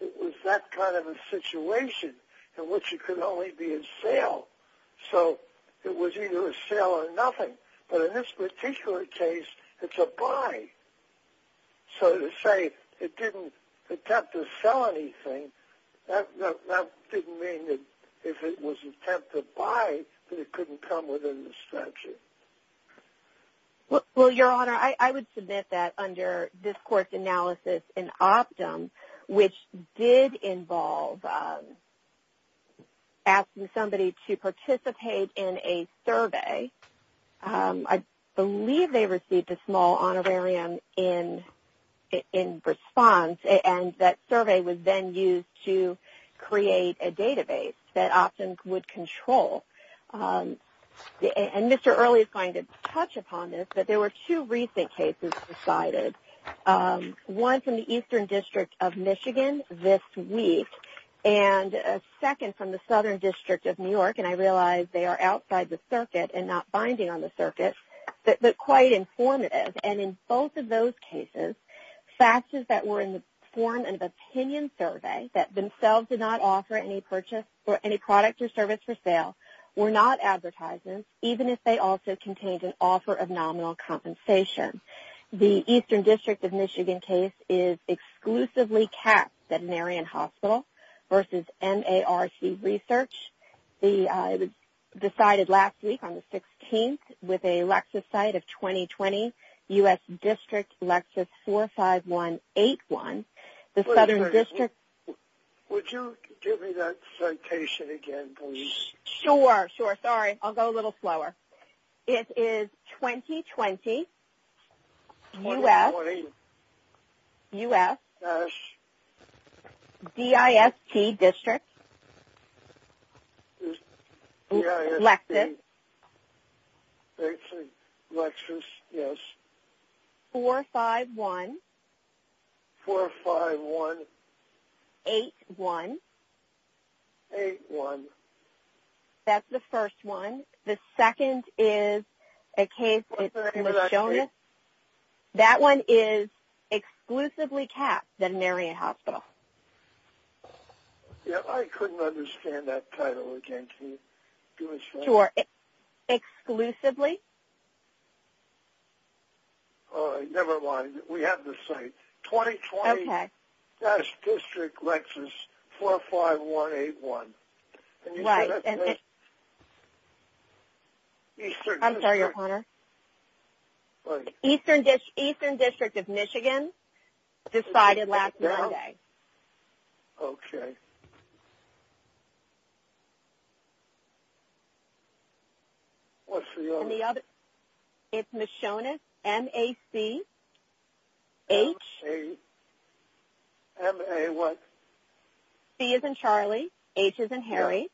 It was that kind of a situation in which it could only be a sale. So it was either a sale or nothing. But in this particular case, it's a buy. So to say it didn't attempt to sell anything, that didn't mean that if it was an attempt to buy, that it couldn't come within the statute. Well, Your Honor, I would submit that under this court's analysis in Optum, which did involve asking somebody to participate in a survey. I believe they received a small honorarium in response, and that survey was then used to create a database that Optum would control. And Mr. Early is going to touch upon this, but there were two recent cases decided, one from the Eastern District of Michigan this week, and a second from the Southern District of New York. And I realize they are outside the circuit and not binding on the circuit, but quite informative. And in both of those cases, FACTSs that were in the form of an opinion survey that themselves did not offer any product or service for sale were not advertisements, even if they also contained an offer of nominal compensation. The Eastern District of Michigan case is exclusively capped veterinarian hospital versus NARC research. It was decided last week on the 16th with a Lexus site of 2020, U.S. District Lexus 45181. The Southern District... Would you give me that citation again, please? Sure, sure. Sorry, I'll go a little slower. It is 2020, U.S. DIST District Lexus 45181. That's the first one. The second is a case... That one is exclusively capped veterinarian hospital. Yeah, I couldn't understand that title again. Can you give me a second? Sure. Exclusively? Never mind. We have the site. 2020, U.S. District Lexus 45181. Right. I'm sorry, Your Honor. Eastern District of Michigan decided last Monday. Okay. What's the other one? It's Machonis, M-A-C-H... M-A what? C as in Charlie, H as in Harry,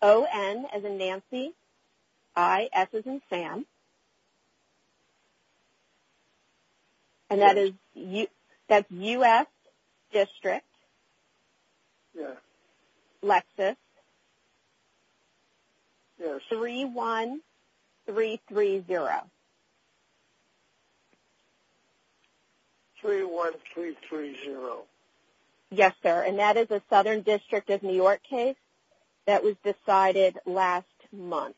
O-N as in Nancy, I-S as in Sam. And that's U.S. District Lexus 31330. 31330. Yes, sir. And that is a Southern District of New York case that was decided last month.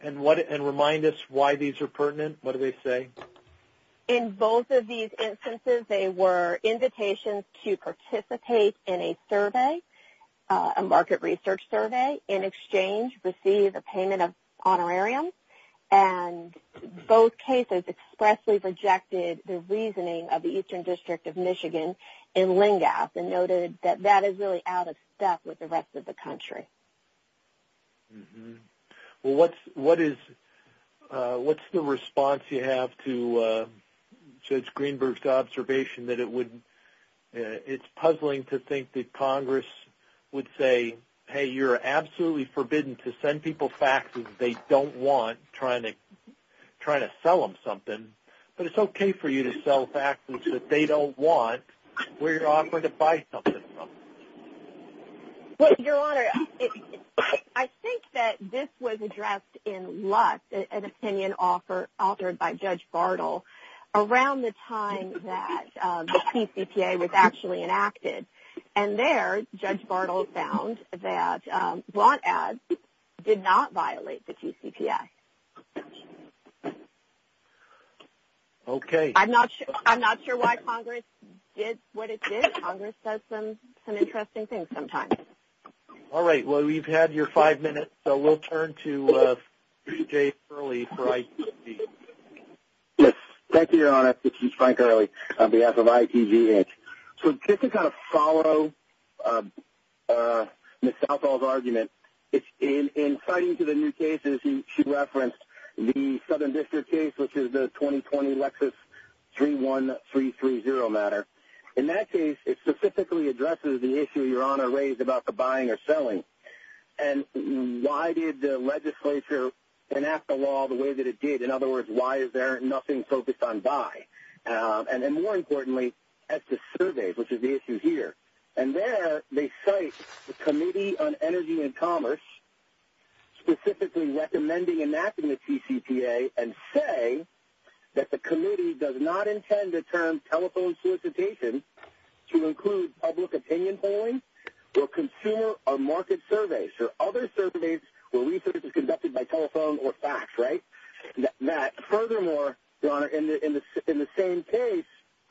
And remind us why these are pertinent. What do they say? In both of these instances, they were invitations to participate in a survey, a market research survey, in exchange to receive a payment of honorarium. And both cases expressly rejected the reasoning of the Eastern District of Michigan in LNGAP and noted that that is really out of step with the rest of the country. Well, what's the response you have to Judge Greenberg's observation that it's puzzling to think that Congress would say, hey, you're absolutely forbidden to send people faxes they don't want trying to sell them something, but it's okay for you to sell faxes that they don't want where you're offering to buy something from. Well, Your Honor, I think that this was addressed in LUS, an opinion authored by Judge Bartle, around the time that the TCPA was actually enacted. And there, Judge Bartle found that blunt ads did not violate the TCPA. Okay. I'm not sure why Congress did what it did. Congress does some interesting things sometimes. All right. Well, we've had your five minutes, so we'll turn to Chief Jay Early for ITV. Yes. Thank you, Your Honor. This is Frank Early on behalf of ITV Inc. So just to kind of follow Ms. Southall's argument, in citing to the new cases she referenced, the Southern District case, which is the 2020 Lexus 31330 matter, in that case it specifically addresses the issue Your Honor raised about the buying or selling. And why did the legislature enact the law the way that it did? In other words, why is there nothing focused on buy? And then more importantly, at the surveys, which is the issue here. And there they cite the Committee on Energy and Commerce specifically recommending enacting the TCPA and say that the committee does not intend to turn telephone solicitation to include public opinion polling or consumer or market surveys or other surveys where research is conducted by telephone or fax, right? And that furthermore, Your Honor, in the same case,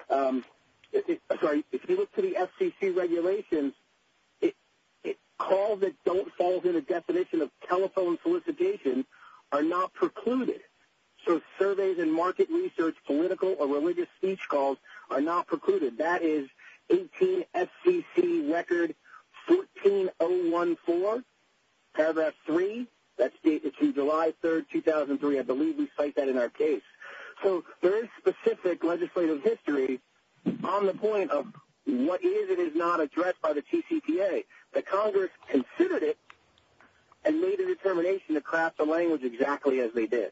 sorry, if you look to the FCC regulations, calls that don't fall within a definition of telephone solicitation are not precluded. So surveys and market research, political or religious speech calls are not precluded. That is 18 FCC record 14014, paragraph 3. That's dated to July 3rd, 2003. I believe we cite that in our case. So there is specific legislative history on the point of what is and is not addressed by the TCPA. But Congress considered it and made a determination to craft the language exactly as they did.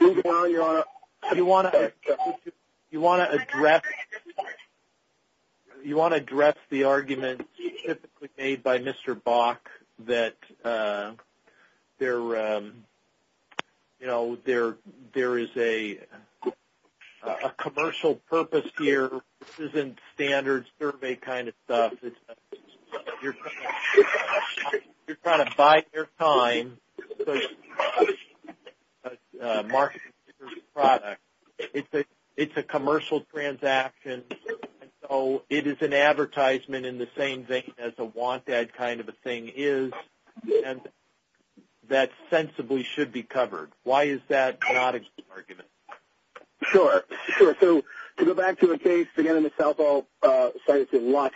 You want to address the arguments typically made by Mr. Bach that there is a commercial purpose here. This isn't standard survey kind of stuff. You're trying to bide your time to market your product. It's a commercial transaction. So it is an advertisement in the same vein as a want ad kind of a thing is that sensibly should be covered. Why is that not an argument? Sure. Sure. So to go back to a case, again, Ms. Salvo cited it once,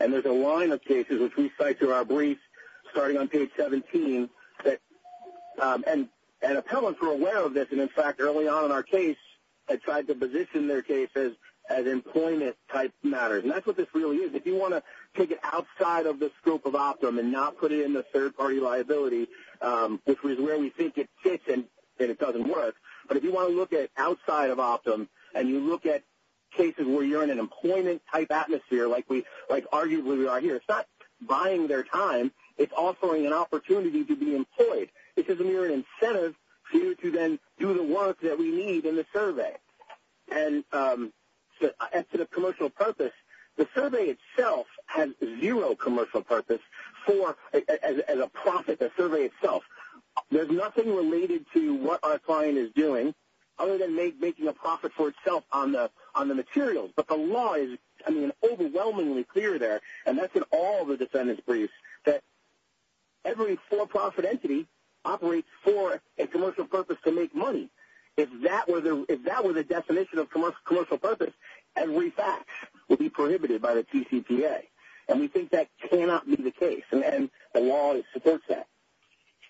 and there's a line of cases which we cite to our brief starting on page 17. And appellants are aware of this, and, in fact, early on in our case they tried to position their cases as employment-type matters. And that's what this really is. If you want to take it outside of the scope of Optum and not put it in the third-party liability, which is where we think it fits and it doesn't work, but if you want to look at it outside of Optum and you look at cases where you're in an employment-type atmosphere, like arguably we are here, it's not buying their time. It's offering an opportunity to be employed. It's as a mere incentive for you to then do the work that we need in the survey. And to the commercial purpose, the survey itself has zero commercial purpose as a profit, the survey itself. There's nothing related to what our client is doing other than making a profit for itself on the materials. But the law is, I mean, overwhelmingly clear there, and that's in all the defendant's briefs, that every for-profit entity operates for a commercial purpose to make money. If that were the definition of commercial purpose, every fact would be prohibited by the TCPA. And we think that cannot be the case, and the law supports that.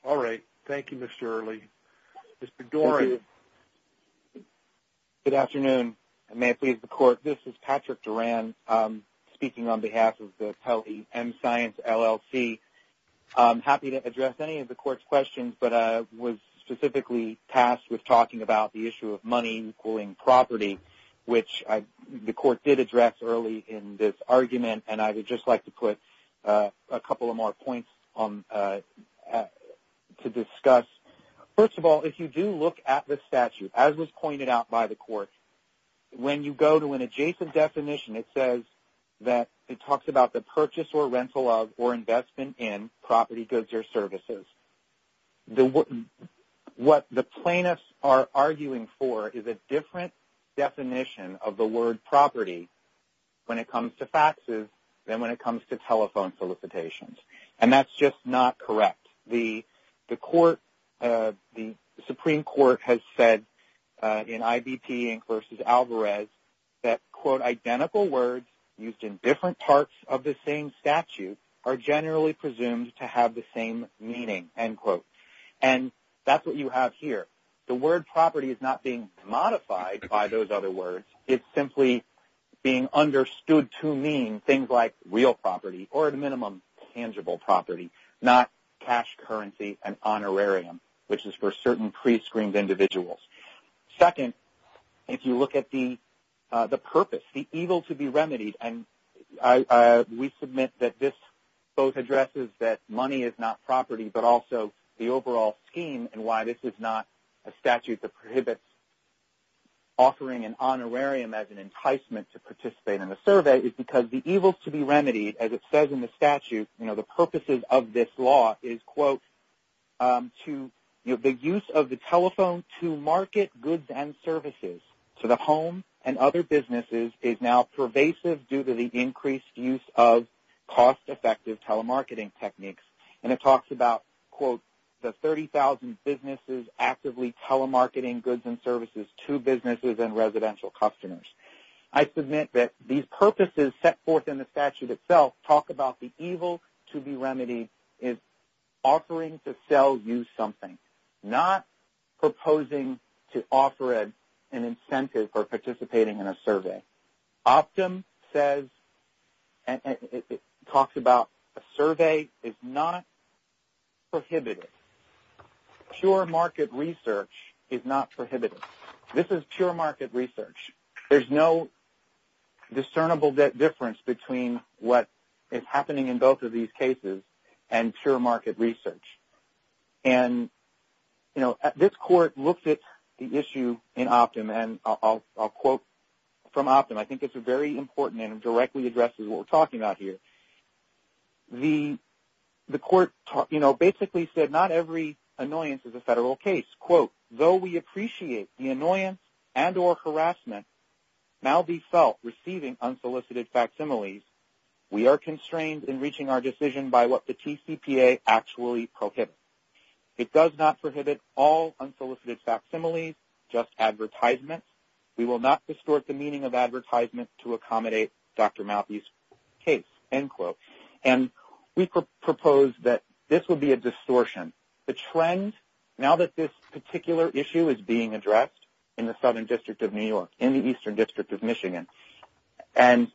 All right. Thank you, Mr. Early. Mr. Doran. Good afternoon, and may it please the Court. This is Patrick Duran speaking on behalf of the Pelley M-Science LLC. I'm happy to address any of the Court's questions, but I was specifically tasked with talking about the issue of money equaling property, which the Court did address early in this argument, and I would just like to put a couple of more points to discuss. First of all, if you do look at the statute, as was pointed out by the Court, when you go to an adjacent definition, it says that it talks about the purchase or rental of or investment in property, goods, or services. What the plaintiffs are arguing for is a different definition of the word property when it comes to faxes than when it comes to telephone solicitations. And that's just not correct. The Supreme Court has said in IBP v. Alvarez that, quote, And that's what you have here. The word property is not being modified by those other words. It's simply being understood to mean things like real property or, at a minimum, tangible property, not cash, currency, and honorarium, which is for certain prescreened individuals. Second, if you look at the purpose, the evil to be remedied, and we submit that this both addresses that money is not property but also the overall scheme and why this is not a statute that prohibits offering an honorarium as an enticement to participate in a survey, is because the evil to be remedied, as it says in the statute, the purposes of this law is, quote, The use of the telephone to market goods and services to the home and other businesses is now pervasive due to the increased use of cost-effective telemarketing techniques. And it talks about, quote, I submit that these purposes set forth in the statute itself talk about the evil to be remedied is offering to sell you something, not proposing to offer an incentive for participating in a survey. Optum says, and it talks about, a survey is not prohibited. Pure market research is not prohibited. This is pure market research. There's no discernible difference between what is happening in both of these cases and pure market research. And, you know, this court looked at the issue in Optum, and I'll quote from Optum. I think it's very important and it directly addresses what we're talking about here. The court, you know, basically said not every annoyance is a federal case. Quote, It does not prohibit all unsolicited facsimiles, just advertisements. We will not distort the meaning of advertisements to accommodate Dr. Maltby's case, end quote. And we propose that this would be a distortion. The trend, now that this particular issue is being addressed in the Southern District of New York, in the Eastern District of Michigan, and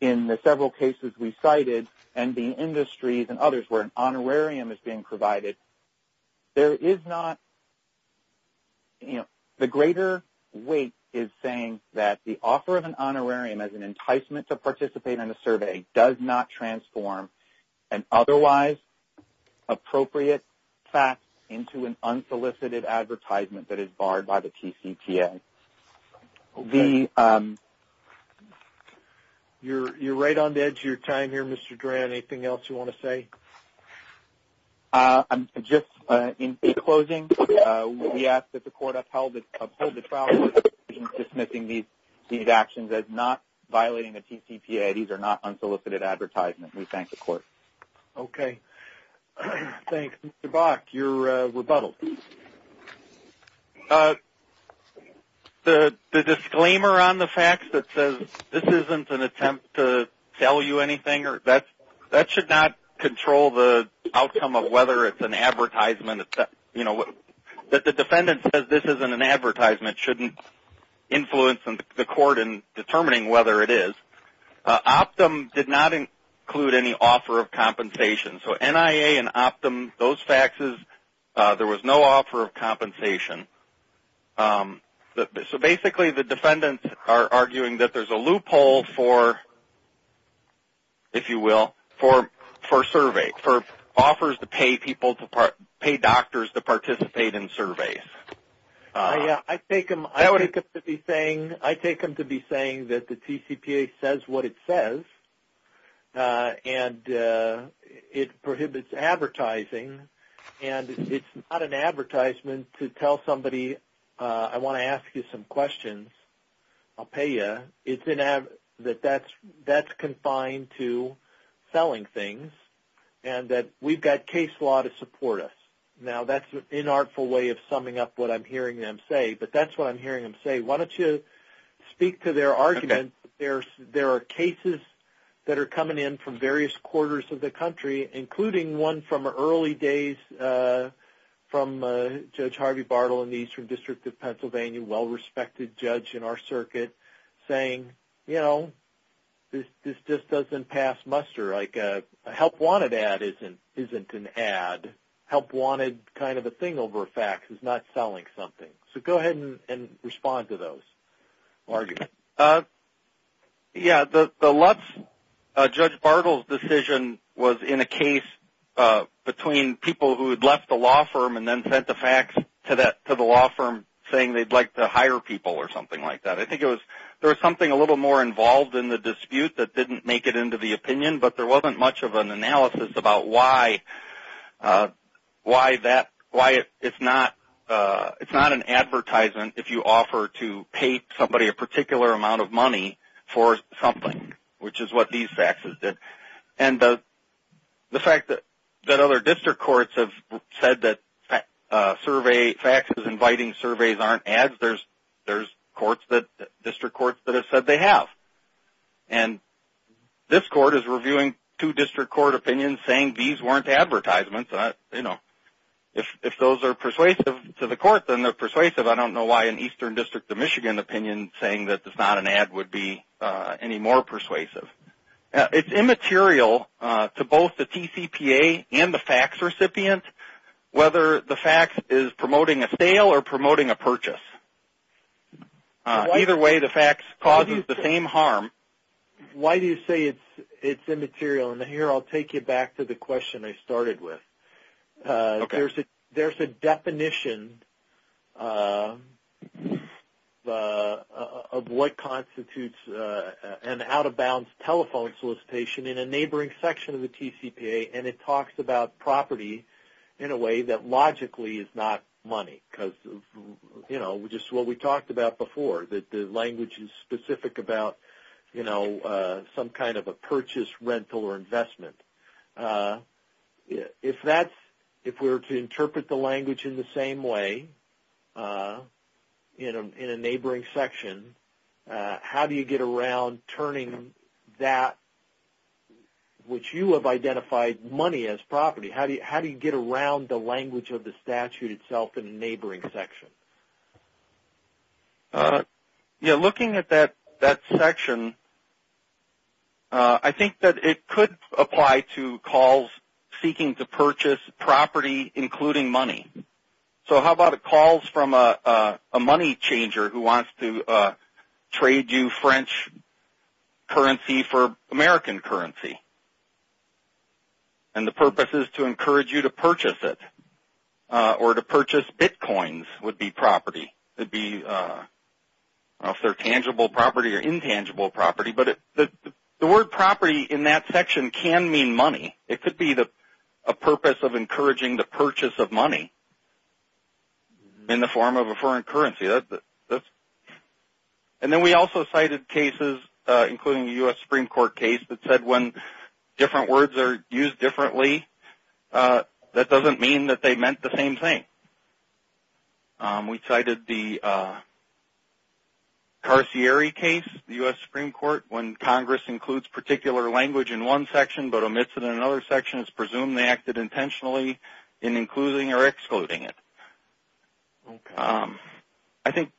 in the several cases we cited, and the industries and others where an honorarium is being provided, there is not, you know, the greater weight is saying that the offer of an honorarium as an enticement to participate in a survey does not transform an otherwise appropriate fact into an unsolicited advertisement that is barred by the TCPA. Okay. You're right on the edge of your time here, Mr. Grant. Anything else you want to say? Just in closing, we ask that the court uphold the trial court's decision dismissing these actions as not violating the TCPA. These are not unsolicited advertisements. We thank the court. Okay. Thanks. Mr. Bach, your rebuttal. The disclaimer on the fax that says this isn't an attempt to tell you anything, that should not control the outcome of whether it's an advertisement, you know, that the defendant says this isn't an advertisement shouldn't influence the court in determining whether it is. Optum did not include any offer of compensation. So NIA and Optum, those faxes, there was no offer of compensation. So basically the defendants are arguing that there's a loophole for, if you will, for surveys, for offers to pay people, to pay doctors to participate in surveys. I take them to be saying that the TCPA says what it says and it prohibits advertising and it's not an advertisement to tell somebody I want to ask you some questions, I'll pay you. That's confined to selling things and that we've got case law to support us. Now, that's an inartful way of summing up what I'm hearing them say, but that's what I'm hearing them say. Why don't you speak to their argument. There are cases that are coming in from various quarters of the country, including one from early days from Judge Harvey Bartle in the Eastern District of Pennsylvania, a well-respected judge in our circuit, saying, you know, this just doesn't pass muster. Like a help-wanted ad isn't an ad. Help-wanted kind of a thing over a fax is not selling something. So go ahead and respond to those arguments. Yeah, Judge Bartle's decision was in a case between people who had left the law firm and then sent a fax to the law firm saying they'd like to hire people or something like that. I think there was something a little more involved in the dispute that didn't make it into the opinion, but there wasn't much of an analysis about why it's not an advertisement if you offer to pay somebody a particular amount of money for something, which is what these faxes did. And the fact that other district courts have said that faxes inviting surveys aren't ads, there's district courts that have said they have. And this court is reviewing two district court opinions saying these weren't advertisements. You know, if those are persuasive to the court, then they're persuasive. I don't know why an Eastern District of Michigan opinion saying that it's not an ad would be any more persuasive. It's immaterial to both the TCPA and the fax recipient whether the fax is promoting a sale or promoting a purchase. Either way, the fax causes the same harm. Why do you say it's immaterial? And here I'll take you back to the question I started with. Okay. There's a definition of what constitutes an out-of-bounds telephone solicitation in a neighboring section of the TCPA, and it talks about property in a way that logically is not money because, you know, just what we talked about before, that the language is specific about, you know, some kind of a purchase, rental, or investment. If we were to interpret the language in the same way in a neighboring section, how do you get around turning that which you have identified money as property, how do you get around the language of the statute itself in a neighboring section? You know, looking at that section, I think that it could apply to calls seeking to purchase property including money. So how about a call from a money changer who wants to trade you French currency for American currency, and the purpose is to encourage you to purchase it or to purchase bitcoins would be property. It would be, I don't know if they're tangible property or intangible property, but the word property in that section can mean money. It could be a purpose of encouraging the purchase of money in the form of a foreign currency. And then we also cited cases, including a U.S. Supreme Court case, that said when different words are used differently, that doesn't mean that they meant the same thing. We cited the Carcieri case, the U.S. Supreme Court, when Congress includes particular language in one section but omits it in another section, it's presumed they acted intentionally in including or excluding it. I think,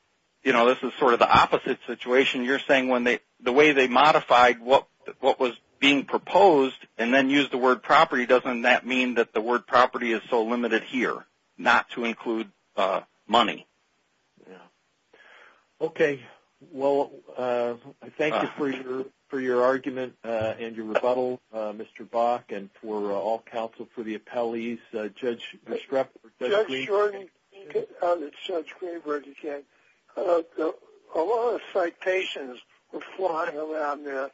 you know, this is sort of the opposite situation. You're saying the way they modified what was being proposed and then used the word property, doesn't that mean that the word property is so limited here, not to include money? Yeah. Okay. Well, I thank you for your argument and your rebuttal, Mr. Bach, and for all counsel for the appellees. Judge Schroeder. Judge Schroeder. It's Judge Schroeder again. A lot of citations were flying around there.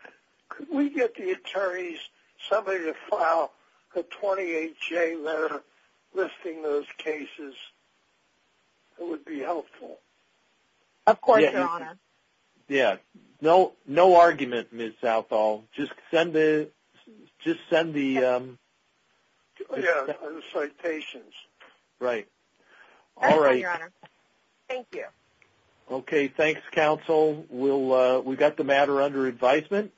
Could we get the attorneys, somebody to file a 28-J letter listing those cases? It would be helpful. Of course, Your Honor. Yeah. No argument, Ms. Southall. Just send the citations. Right. All right. Thank you, Your Honor. Thank you. Okay. Thanks, counsel. We've got the matter under advisement.